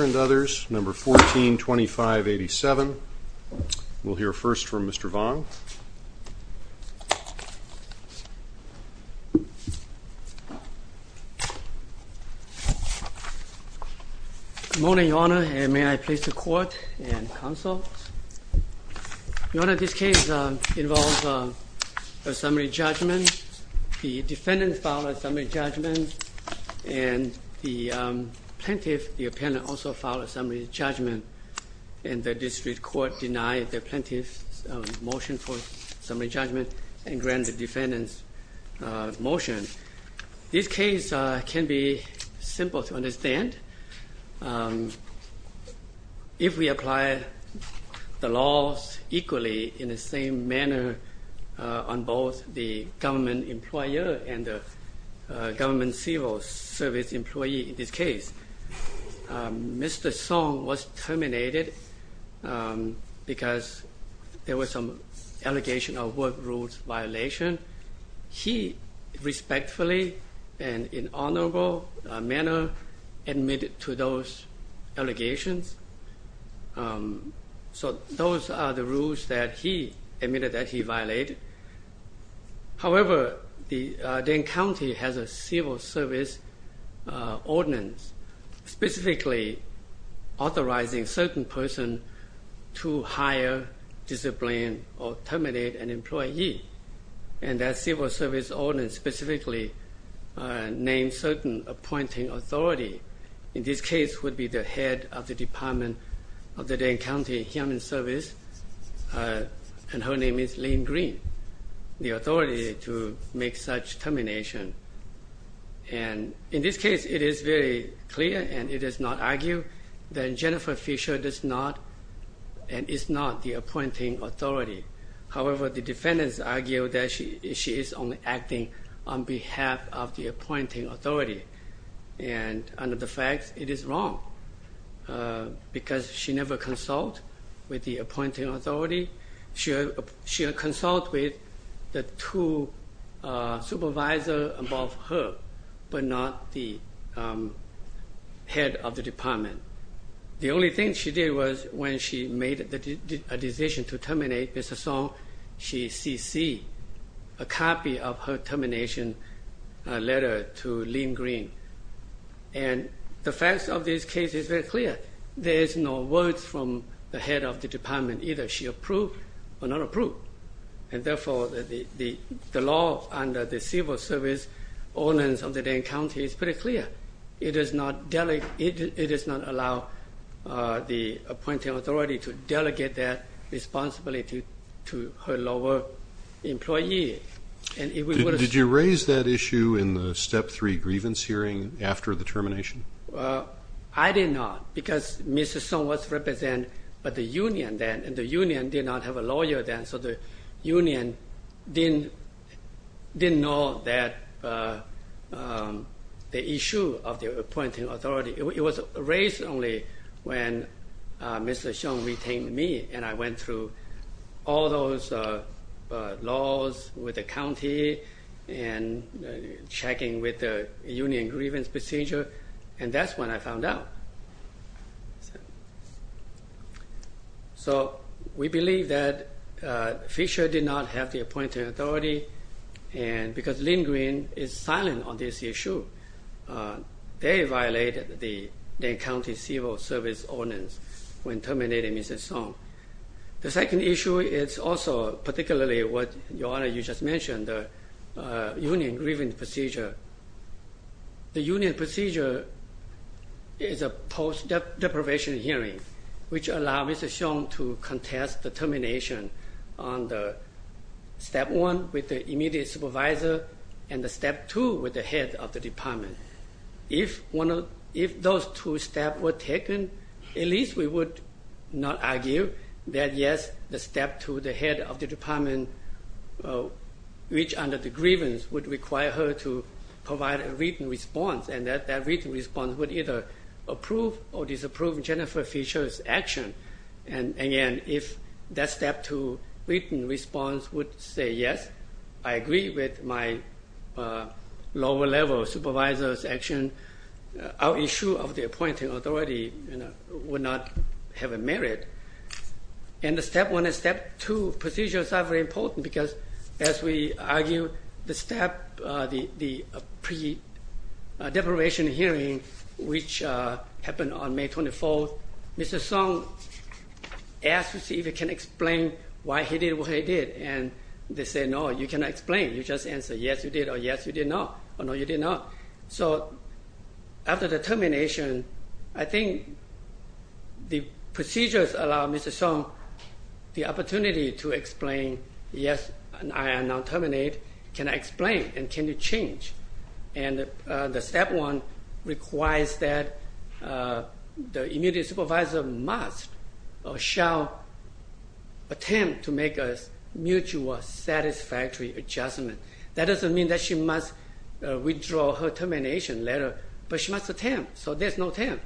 and others, No. 142587. We'll hear first from Mr. Vang. Good morning, Your Honor, and may I please the court and counsel. Your Honor, this case involves a summary judgment. The defendant filed a summary judgment, and the plaintiff, the appellant, also filed a summary judgment, and the district court denied the plaintiff's motion for summary judgment and granted the defendant's motion. This case can be simple to understand. If we apply the laws equally in the same manner on both the government employer and the government civil service employee in this case, Mr. Xiong was terminated because there was some allegation of work rules violation. He respectfully and in honorable manner admitted to those allegations. So those are the rules that he admitted that he violated. However, the Dane County has a civil service ordinance specifically authorizing certain person to hire, discipline, or terminate an employee. And that civil service ordinance specifically names certain appointing authority. In this case would be the head of the Department of the Dane County Human Service, and her name is Lynn Green, the authority to make such termination. And in this case, it is very clear and it is not argued that Jennifer Fisher does not and is not the appointing authority. However, the defendants argue that she is only acting on behalf of the appointing authority. And under the facts, it is wrong because she never consult with the appointing authority. She consult with the two supervisors above her, but not the head of the department. The only thing she did was when she made a decision to terminate Mr. Xiong, she CC a copy of her termination letter to Lynn Green. And the facts of this case is very clear. There is no words from the head of the department, either she approved or not approved. And therefore, the law under the civil service ordinance of the Dane County is pretty clear. It does not allow the appointing authority to delegate that responsibility to her lower employee. Did you raise that issue in the Step 3 grievance hearing after the termination? I did not because Mr. Xiong was represented by the union then, and the union did not have a lawyer then, so the union did not know the issue of the appointing authority. It was raised only when Mr. Xiong retained me, and I went through all those laws with the county and checking with the union grievance procedure, and that's when I found out. So we believe that Fisher did not have the appointing authority because Lynn Green is Dane County Civil Service Ordinance when terminating Mr. Xiong. The second issue is also particularly what, Your Honor, you just mentioned, the union grievance procedure. The union procedure is a post-deprivation hearing, which allows Mr. Xiong to contest the termination on the Step 1 with the immediate supervisor and the Step 2 with the head of the department. If those two steps were taken, at least we would not argue that yes, the Step 2, the head of the department, which under the grievance would require her to provide a written response, and that written response would either approve or disapprove Jennifer Fisher's action. And again, if that Step 2 written response would say yes, I agree with my lower-level supervisor's action, our issue of the appointing authority would not have a merit. And the Step 1 and Step 2 procedures are very important because, as we argue, the step, the pre-deprivation hearing, which happened on May 24, Mr. Xiong asked to see if he can explain why he did what he did. And they said, no, you cannot explain. You just answer yes, you did, or yes, you did not, or no, you did not. So after the termination, I think the procedures allow Mr. Xiong the opportunity to explain, yes, I am now terminate, can I explain, and can you change? And the Step 1 requires that the immediate supervisor must or shall attempt to make a mutual satisfactory adjustment. That doesn't mean that she must withdraw her termination letter, but she must attempt, so there's no attempt.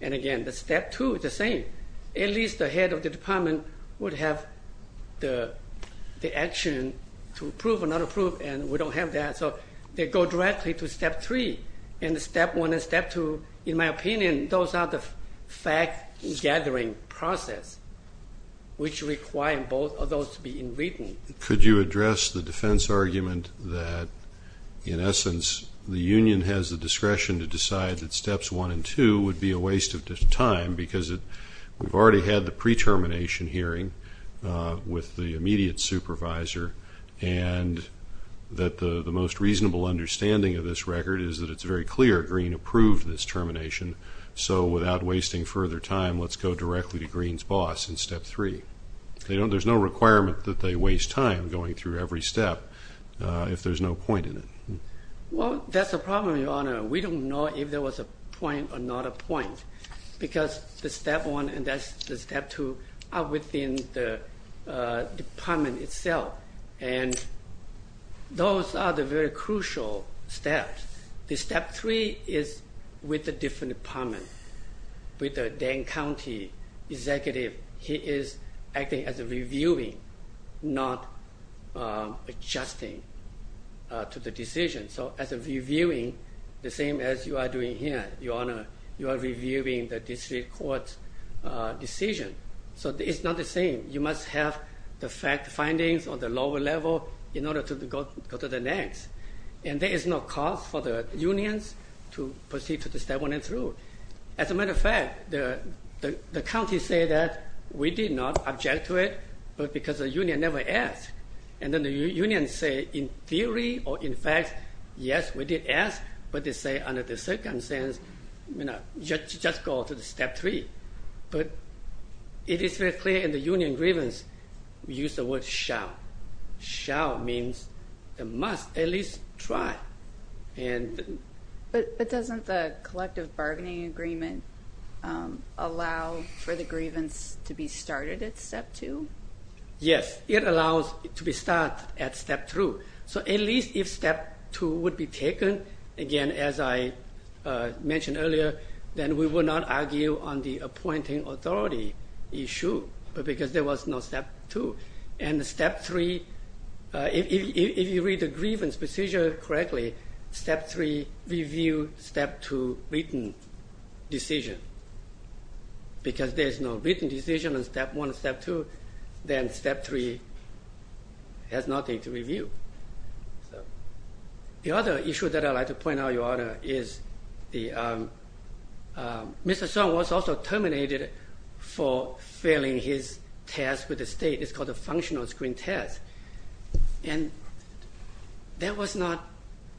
And again, the Step 2 is the same. At least the head of the department would have the action to approve or not approve, and we don't have that, so they go directly to Step 3. And the Step 1 and Step 2, in my opinion, those are the fact-gathering process, which require both of those to be in written. Could you address the defense argument that, in essence, the union has the discretion to decide that Steps 1 and 2 would be a waste of time because we've already had the pre-termination hearing with the immediate supervisor and that the most reasonable understanding of this record is that it's very clear Green approved this termination, so without wasting further time, let's go directly to Green's boss in Step 3. There's no requirement that they waste time going through every step if there's no point in it. Well, that's the problem, Your Honor. We don't know if there was a point or not a point because the Step 1 and the Step 2 are within the department itself, and those are the very crucial steps. The Step 3 is with a different department, with the Dane County executive. He is acting as a reviewer, not adjusting to the decision. So as a reviewing, the same as you are doing here, Your Honor. You are reviewing the district court's decision, so it's not the same. You must have the fact findings on the lower level in order to go to the next, and there is no cause for the unions to proceed to the Step 1 and 2. As a matter of fact, the counties say that we did not object to it because the union never asked, and then the unions say in theory or in fact, yes, we did ask, but they say under the circumstance, you know, just go to the Step 3. But it is very clear in the union grievance, we use the word shall. Shall means they must at least try. But doesn't the collective bargaining agreement allow for the grievance to be started at Step 2? Yes, it allows it to be started at Step 2. So at least if Step 2 would be taken, again, as I mentioned earlier, then we would not argue on the appointing authority issue because there was no Step 2. And Step 3, if you read the grievance procedure correctly, Step 3 review Step 2 written decision because there is no written decision on Step 1 and Step 2, then Step 3 has nothing to review. The other issue that I'd like to point out, Your Honor, is Mr. Song was also terminated for failing his test with the state. It's called a functional screen test, and that was not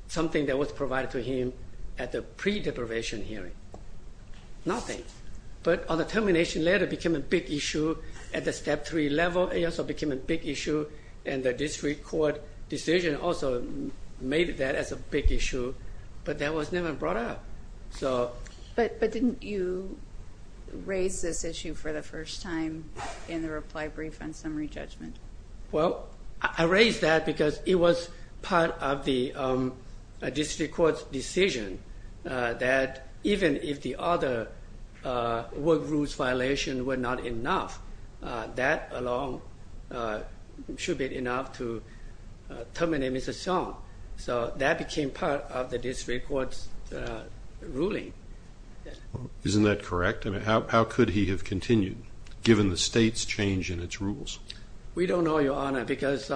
something that was provided to him at the pre-deprivation hearing. Nothing. But on the termination letter, it became a big issue at the Step 3 level. It also became a big issue, and the district court decision also made that as a big issue. But that was never brought up. But didn't you raise this issue for the first time in the reply brief on summary judgment? Well, I raised that because it was part of the district court's decision that even if the other work rules violations were not enough, that alone should be enough to terminate Mr. Song. So that became part of the district court's ruling. Isn't that correct? I mean, how could he have continued given the state's change in its rules? We don't know, Your Honor, because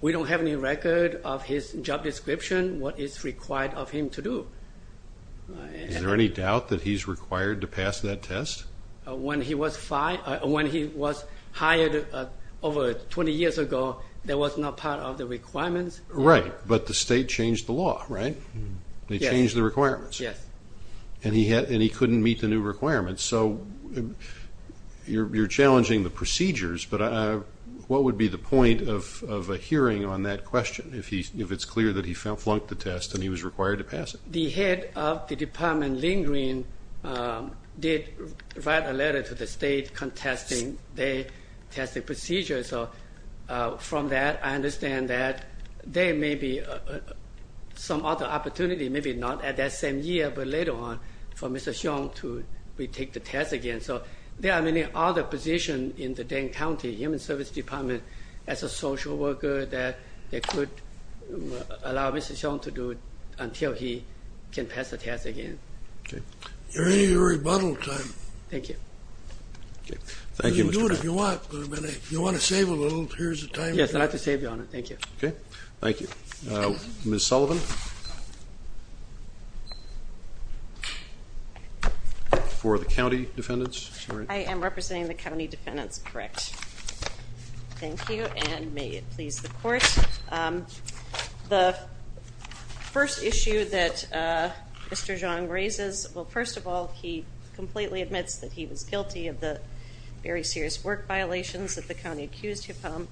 we don't have any record of his job description, what is required of him to do. Is there any doubt that he's required to pass that test? When he was hired over 20 years ago, that was not part of the requirements. Right, but the state changed the law, right? They changed the requirements. Yes. And he couldn't meet the new requirements. So you're challenging the procedures, but what would be the point of a hearing on that question, if it's clear that he flunked the test and he was required to pass it? The head of the department, Lynn Green, did write a letter to the state contesting their testing procedures. So from that, I understand that there may be some other opportunity, maybe not at that same year, but later on for Mr. Hsiong to retake the test again. So there are many other positions in the Dane County Human Services Department as a social worker that they could allow Mr. Hsiong to do until he can pass the test again. Okay. Your rebuttal time. Thank you. You can do it if you want, but if you want to save a little, here's the time. Yes, I'd like to save, Your Honor. Thank you. Okay. Thank you. Ms. Sullivan? For the county defendants? I am representing the county defendants, correct. Thank you, and may it please the Court. The first issue that Mr. Hsiong raises, well, first of all, he completely admits that he was guilty of the very serious work violations that the county accused him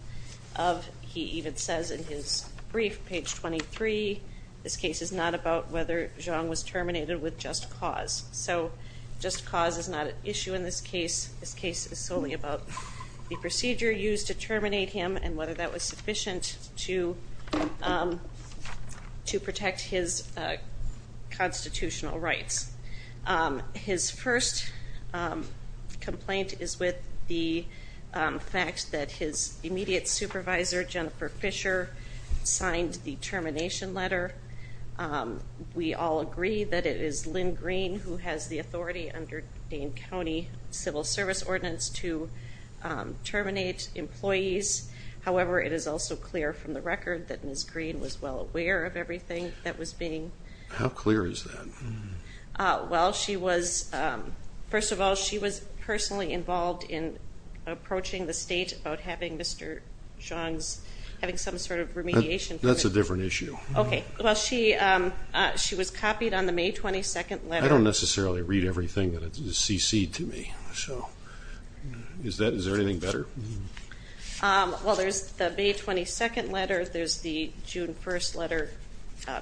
of. He even says in his brief, page 23, this case is not about whether Hsiong was terminated with just cause. So just cause is not an issue in this case. This case is solely about the procedure used to terminate him and whether that was sufficient to protect his constitutional rights. His first complaint is with the fact that his immediate supervisor, Jennifer Fisher, signed the termination letter. We all agree that it is Lynn Green who has the authority under Dane County Civil Service Ordinance to terminate employees. However, it is also clear from the record that Ms. Green was well aware of everything that was being ---- How clear is that? Well, she was, first of all, she was personally involved in approaching the state about having Mr. Hsiong's, having some sort of remediation. That's a different issue. Okay. Well, she was copied on the May 22nd letter. I don't necessarily read everything that is cc'd to me, so is there anything better? Well, there's the May 22nd letter. There's the June 1st letter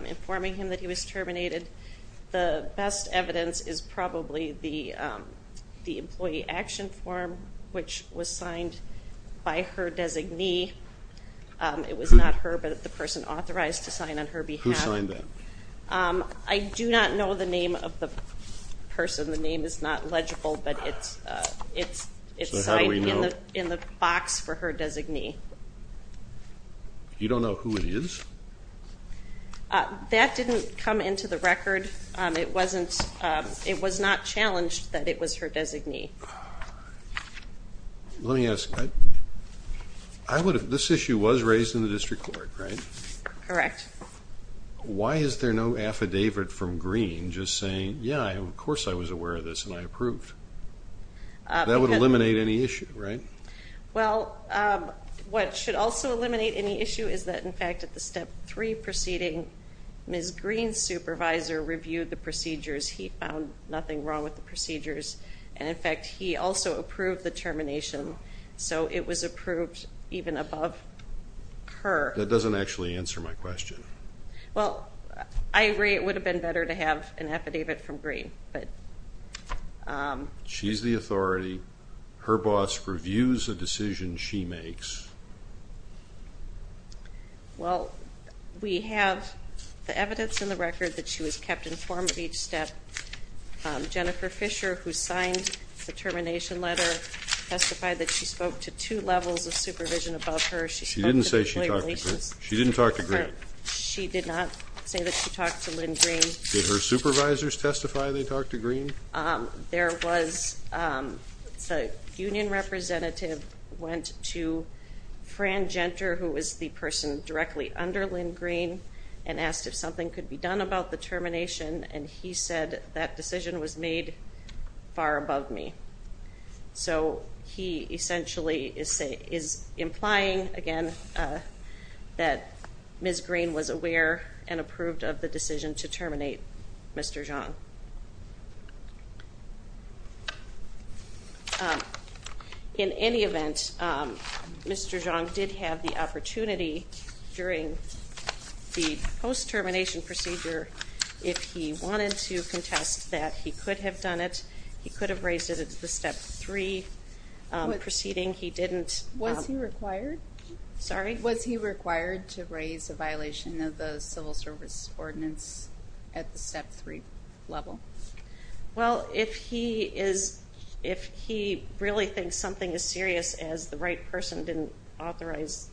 informing him that he was terminated. The best evidence is probably the employee action form, which was signed by her designee. It was not her, but the person authorized to sign on her behalf. Who signed that? I do not know the name of the person. The name is not legible, but it's signed in the box for her designee. You don't know who it is? That didn't come into the record. It wasn't, it was not challenged that it was her designee. Let me ask, this issue was raised in the district court, right? Correct. Why is there no affidavit from Green just saying, yeah, of course I was aware of this and I approved? That would eliminate any issue, right? Well, what should also eliminate any issue is that, in fact, at the Step 3 proceeding, Ms. Green's supervisor reviewed the procedures. He found nothing wrong with the procedures. And, in fact, he also approved the termination. So it was approved even above her. That doesn't actually answer my question. Well, I agree it would have been better to have an affidavit from Green. She's the authority. Her boss reviews the decisions she makes. Well, we have the evidence in the record that she was kept informed of each step. Jennifer Fisher, who signed the termination letter, testified that she spoke to two levels of supervision above her. She spoke to employee relations. She didn't say she talked to Green. She didn't talk to Green. She did not say that she talked to Lynn Green. Did her supervisors testify they talked to Green? There was a union representative went to Fran Genter, who was the person directly under Lynn Green, and asked if something could be done about the termination, and he said that decision was made far above me. So he essentially is implying, again, that Ms. Green was aware and approved of the decision to terminate Mr. Zhang. In any event, Mr. Zhang did have the opportunity, during the post-termination procedure, if he wanted to contest that he could have done it, he could have raised it at the Step 3 proceeding. Was he required to raise a violation of the civil service ordinance at the Step 3 level? Well, if he really thinks something is serious, as the right person didn't authorize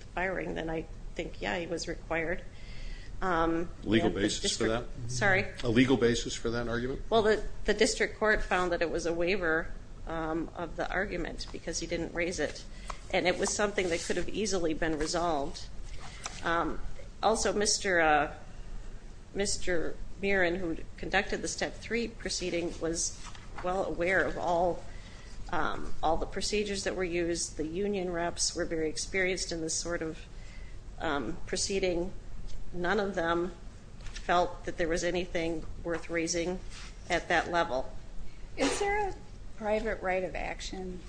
the firing, then I think, yeah, he was required. A legal basis for that? Sorry? A legal basis for that argument? Well, the district court found that it was a waiver of the argument, because he didn't raise it, and it was something that could have easily been resolved. Also, Mr. Mirren, who conducted the Step 3 proceeding, was well aware of all the procedures that were used. None of them felt that there was anything worth raising at that level. Is there a private right of action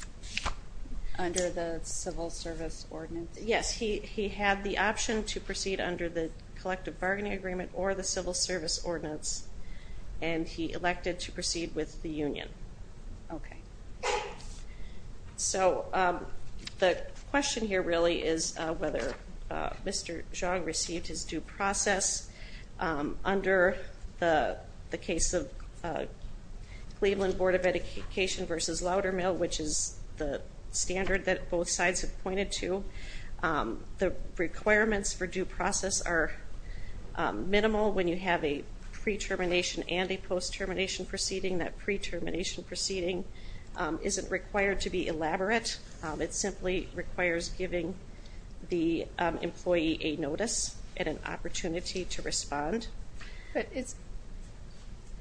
under the civil service ordinance? Yes. He had the option to proceed under the collective bargaining agreement or the civil service ordinance, and he elected to proceed with the union. Okay. So the question here really is whether Mr. Zhang received his due process. Under the case of Cleveland Board of Education v. Laudermill, which is the standard that both sides have pointed to, the requirements for due process are minimal when you have a pre-termination and a post-termination proceeding. That pre-termination proceeding isn't required to be elaborate. It simply requires giving the employee a notice and an opportunity to respond. But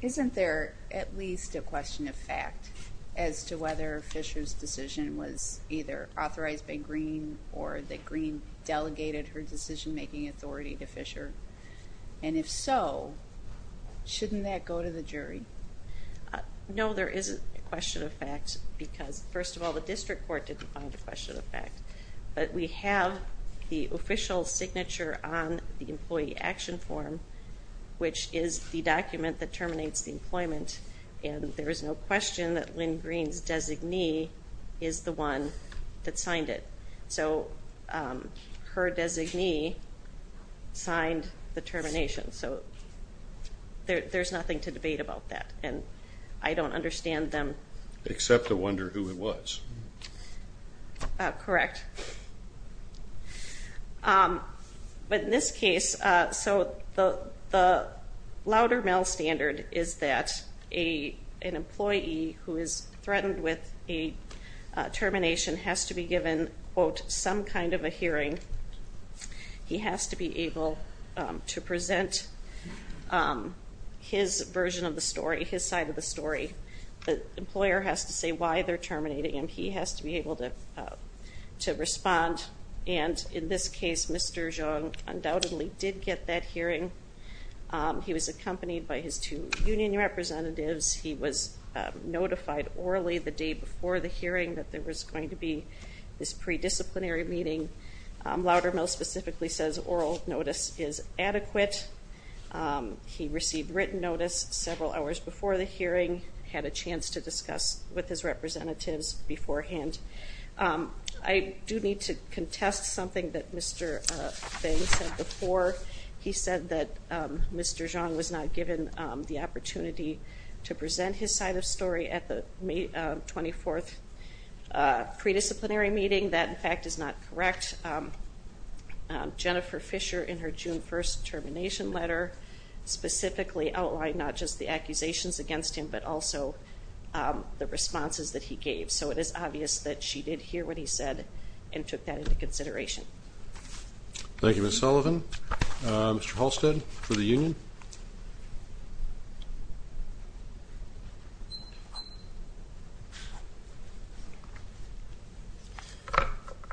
isn't there at least a question of fact as to whether Fisher's decision was either authorized by Green or that Green delegated her decision-making authority to Fisher? And if so, shouldn't that go to the jury? No, there isn't a question of fact because, first of all, the district court didn't find a question of fact. But we have the official signature on the employee action form, which is the document that terminates the employment, and there is no question that Lynn Green's designee is the one that signed it. So her designee signed the termination. So there's nothing to debate about that, and I don't understand them. Except to wonder who it was. Correct. But in this case, so the Laudermill standard is that an employee who is going to get some kind of a hearing, he has to be able to present his version of the story, his side of the story. The employer has to say why they're terminating him. He has to be able to respond. And in this case, Mr. Jung undoubtedly did get that hearing. He was accompanied by his two union representatives. He was notified orally the day before the hearing that there was going to be this pre-disciplinary meeting. Laudermill specifically says oral notice is adequate. He received written notice several hours before the hearing, had a chance to discuss with his representatives beforehand. I do need to contest something that Mr. Fang said before. He said that Mr. Jung was not given the opportunity to present his side of the Pre-disciplinary meeting. That, in fact, is not correct. Jennifer Fisher, in her June 1st termination letter, specifically outlined not just the accusations against him, but also the responses that he gave. So it is obvious that she did hear what he said and took that into consideration. Thank you, Ms. Sullivan. Mr. Halstead for the union.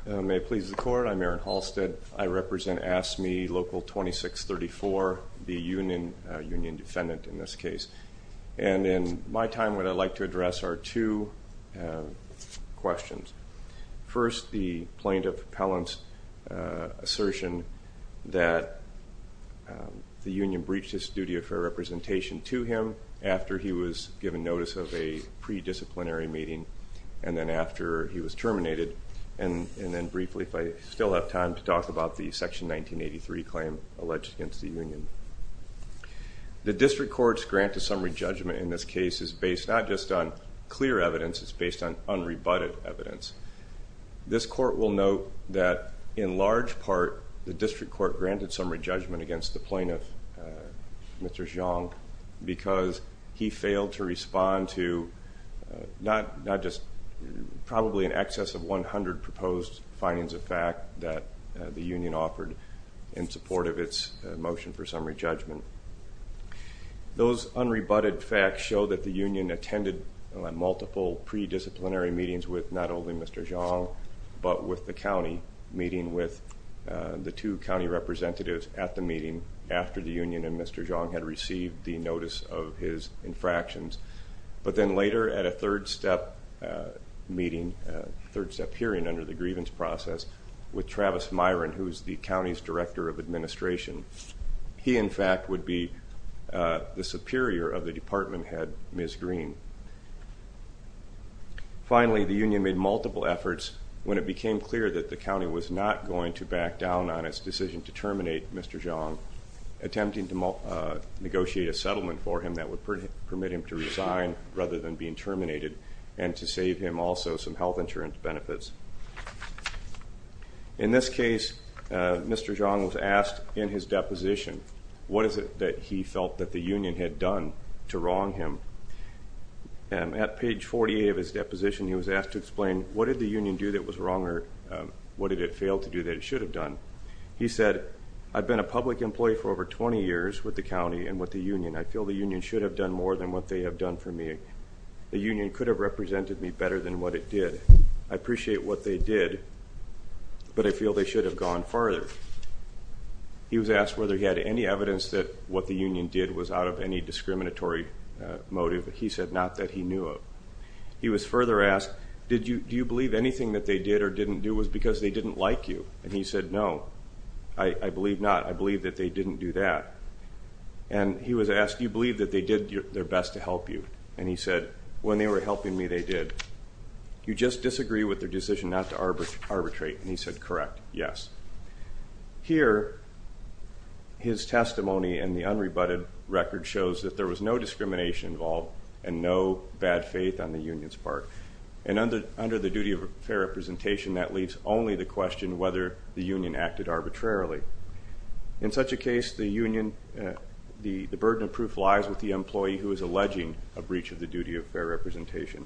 May it please the Court, I'm Aaron Halstead. I represent AFSCME Local 2634, the union defendant in this case. And in my time, what I'd like to address are two questions. First, the plaintiff's assertion that the union breached his duty of fair representation to him after he was given notice of a pre-disciplinary meeting and then after he was terminated. And then briefly, if I still have time, to talk about the Section 1983 claim alleged against the union. The district court's grant to summary judgment in this case is based not just on clear evidence, it's based on unrebutted evidence. This court will note that in large part, the district court granted summary judgment against the plaintiff, Mr. Xiong, because he failed to respond to not just probably in excess of 100 proposed findings of fact that the union offered in support of its motion for summary judgment. Those unrebutted facts show that the union attended multiple pre-disciplinary meetings with not only Mr. Xiong, but with the county, meeting with the two county representatives at the meeting after the union and Mr. Xiong had received the notice of his infractions. But then later at a third-step meeting, third-step hearing under the grievance process with Travis Myron, who is the county's director of administration. He, in fact, would be the superior of the department head, Ms. Green. Finally, the union made multiple efforts when it became clear that the county was not going to back down on its decision to terminate Mr. Xiong, attempting to negotiate a settlement for him that would permit him to resign rather than being terminated and to save him also some health insurance benefits. In this case, Mr. Xiong was asked in his deposition, what is it that he felt that the union had done to wrong him? At page 48 of his deposition, he was asked to explain what did the union do that was wrong or what did it fail to do that it should have done. He said, I've been a public employee for over 20 years with the county and with the union. I feel the union should have done more than what they have done for me. The union could have represented me better than what it did. I appreciate what they did, but I feel they should have gone farther. He was asked whether he had any evidence that what the union did was out of any discriminatory motive. He said not that he knew of. He was further asked, do you believe anything that they did or didn't do was because they didn't like you? And he said, no, I believe not. I believe that they didn't do that. And he was asked, do you believe that they did their best to help you? And he said, when they were helping me, they did. Do you just disagree with their decision not to arbitrate? And he said, correct, yes. Here, his testimony in the unrebutted record shows that there was no discrimination involved and no bad faith on the union's part. And under the duty of fair representation, that leaves only the question whether the union acted arbitrarily. In such a case, the burden of proof lies with the employee who is alleging a breach of the duty of fair representation.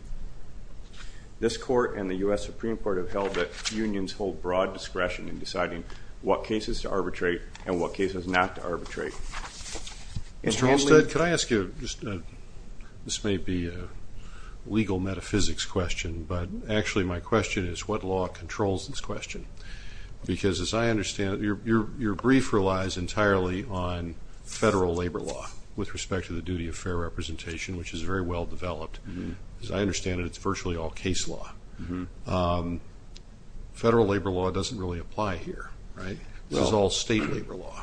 This court and the U.S. Supreme Court have held that unions hold broad discretion in deciding what cases to arbitrate and what cases not to arbitrate. Mr. Hanstead, could I ask you, this may be a legal metaphysics question, but actually my question is what law controls this question? Because as I understand it, your brief relies entirely on federal labor law with respect to the duty of fair representation, which is very well developed. As I understand it, it's virtually all case law. Federal labor law doesn't really apply here, right? This is all state labor law.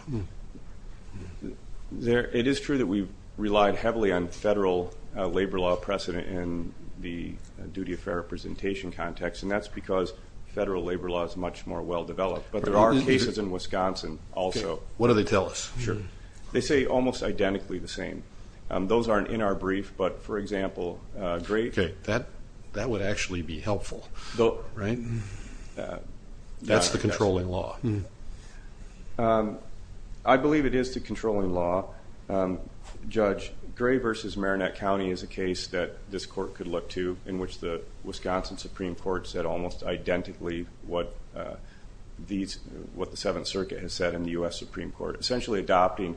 It is true that we relied heavily on federal labor law precedent in the duty of fair representation context, and that's because federal labor law is much more well developed. But there are cases in Wisconsin also. What do they tell us? They say almost identically the same. Those aren't in our brief, but, for example, Gray. That would actually be helpful, right? That's the controlling law. I believe it is the controlling law. Judge, Gray v. Marinette County is a case that this court could look to in which the Wisconsin Supreme Court said almost identically what the Seventh Circuit has said and the U.S. Supreme Court. We're essentially adopting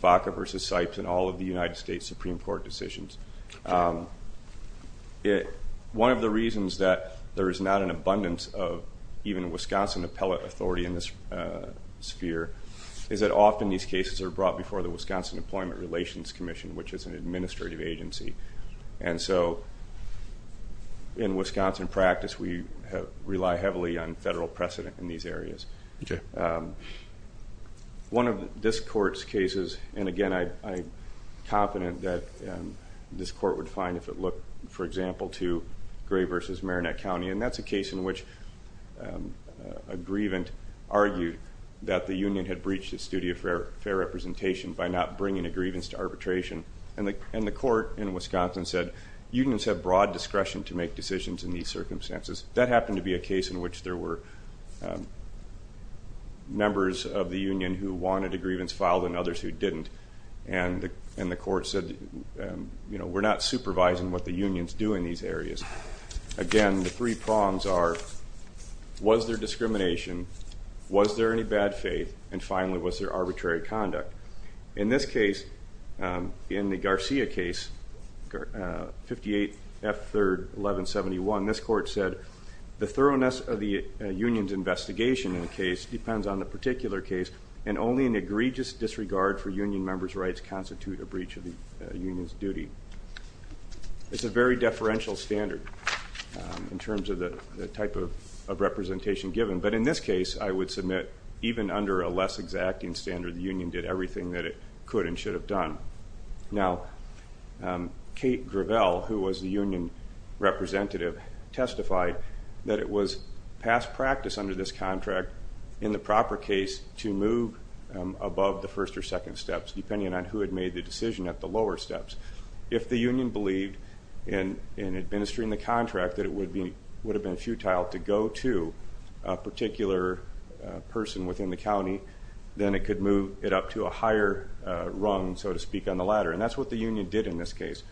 Vaca v. Sipes in all of the United States Supreme Court decisions. One of the reasons that there is not an abundance of even Wisconsin appellate authority in this sphere is that often these cases are brought before the Wisconsin Employment Relations Commission, which is an administrative agency. And so in Wisconsin practice, we rely heavily on federal precedent in these areas. Okay. One of this court's cases, and, again, I'm confident that this court would find if it looked, for example, to Gray v. Marinette County, and that's a case in which a grievant argued that the union had breached its duty of fair representation by not bringing a grievance to arbitration. And the court in Wisconsin said unions have broad discretion to make decisions in these circumstances. That happened to be a case in which there were members of the union who wanted a grievance filed and others who didn't. And the court said, you know, we're not supervising what the unions do in these areas. Again, the three prongs are was there discrimination, was there any bad faith, and, finally, was there arbitrary conduct? In this case, in the Garcia case, 58 F. 3, 1171, this court said, the thoroughness of the union's investigation in the case depends on the particular case, and only an egregious disregard for union members' rights constitute a breach of the union's duty. It's a very deferential standard in terms of the type of representation given, but in this case, I would submit, even under a less exacting standard, the union did everything that it could and should have done. Now, Kate Gravel, who was the union representative, testified that it was past practice under this contract, in the proper case, to move above the first or second steps, depending on who had made the decision at the lower steps. If the union believed in administering the contract, that it would have been futile to go to a particular person within the union to speak on the latter, and that's what the union did in this case.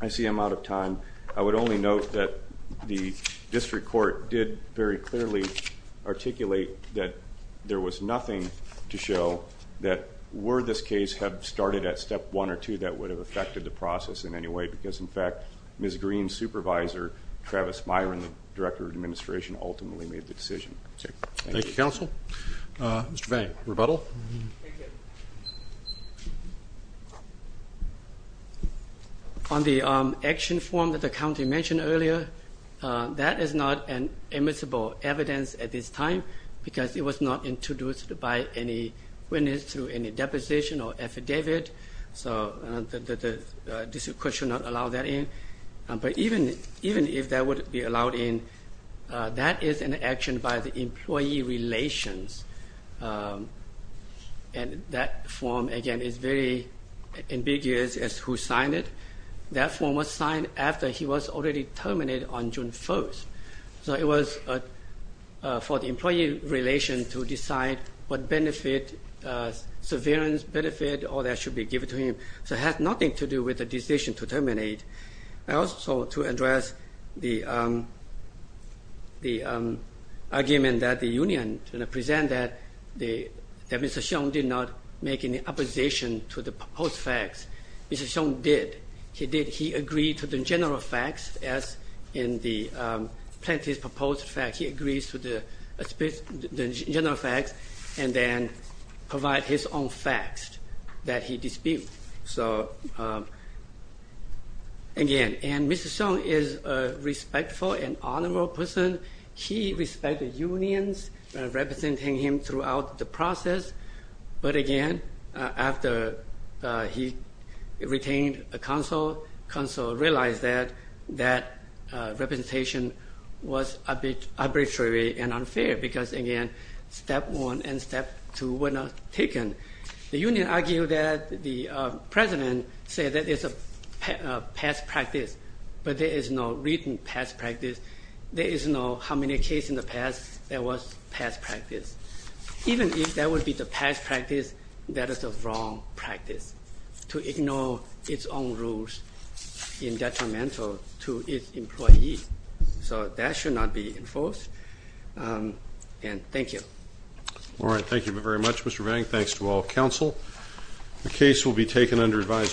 I see I'm out of time. I would only note that the district court did very clearly articulate that there was nothing to show that, were this case had started at step one or two, that would have affected the process in any way, because, in fact, Ms. Green's supervisor, Travis Myron, the director of administration, ultimately made the decision. Thank you. Thank you, counsel. Mr. Vang, rebuttal? Thank you. On the action form that the county mentioned earlier, that is not an admissible evidence at this time, because it was not introduced by any witness through any deposition or affidavit, so the district court should not allow that in. But even if that would be allowed in, that is an action by the employee relations, and that form, again, is very ambiguous as to who signed it. That form was signed after he was already terminated on June 1st. So it was for the employee relations to decide what benefit, severance benefit or that should be given to him. So it has nothing to do with the decision to terminate. Also, to address the argument that the union presented that Mr. Hsiong did not make any opposition to the proposed facts, Mr. Hsiong did. He did. He agreed to the general facts as in the plaintiff's proposed facts. He agrees to the general facts and then provide his own facts that he disputes. So, again, and Mr. Hsiong is a respectful and honorable person. He respected unions representing him throughout the process. But, again, after he retained counsel, counsel realized that that representation was arbitrary and unfair, because, again, step one and step two were not taken. The union argued that the president said that it's a past practice, but there is no written past practice. There is no how many cases in the past there was past practice. Even if that would be the past practice, that is the wrong practice to ignore its own rules in detrimental to its employee. So that should not be enforced. And thank you. All right. Thank you very much, Mr. Vang. Thanks to all counsel. The case will be taken under advised.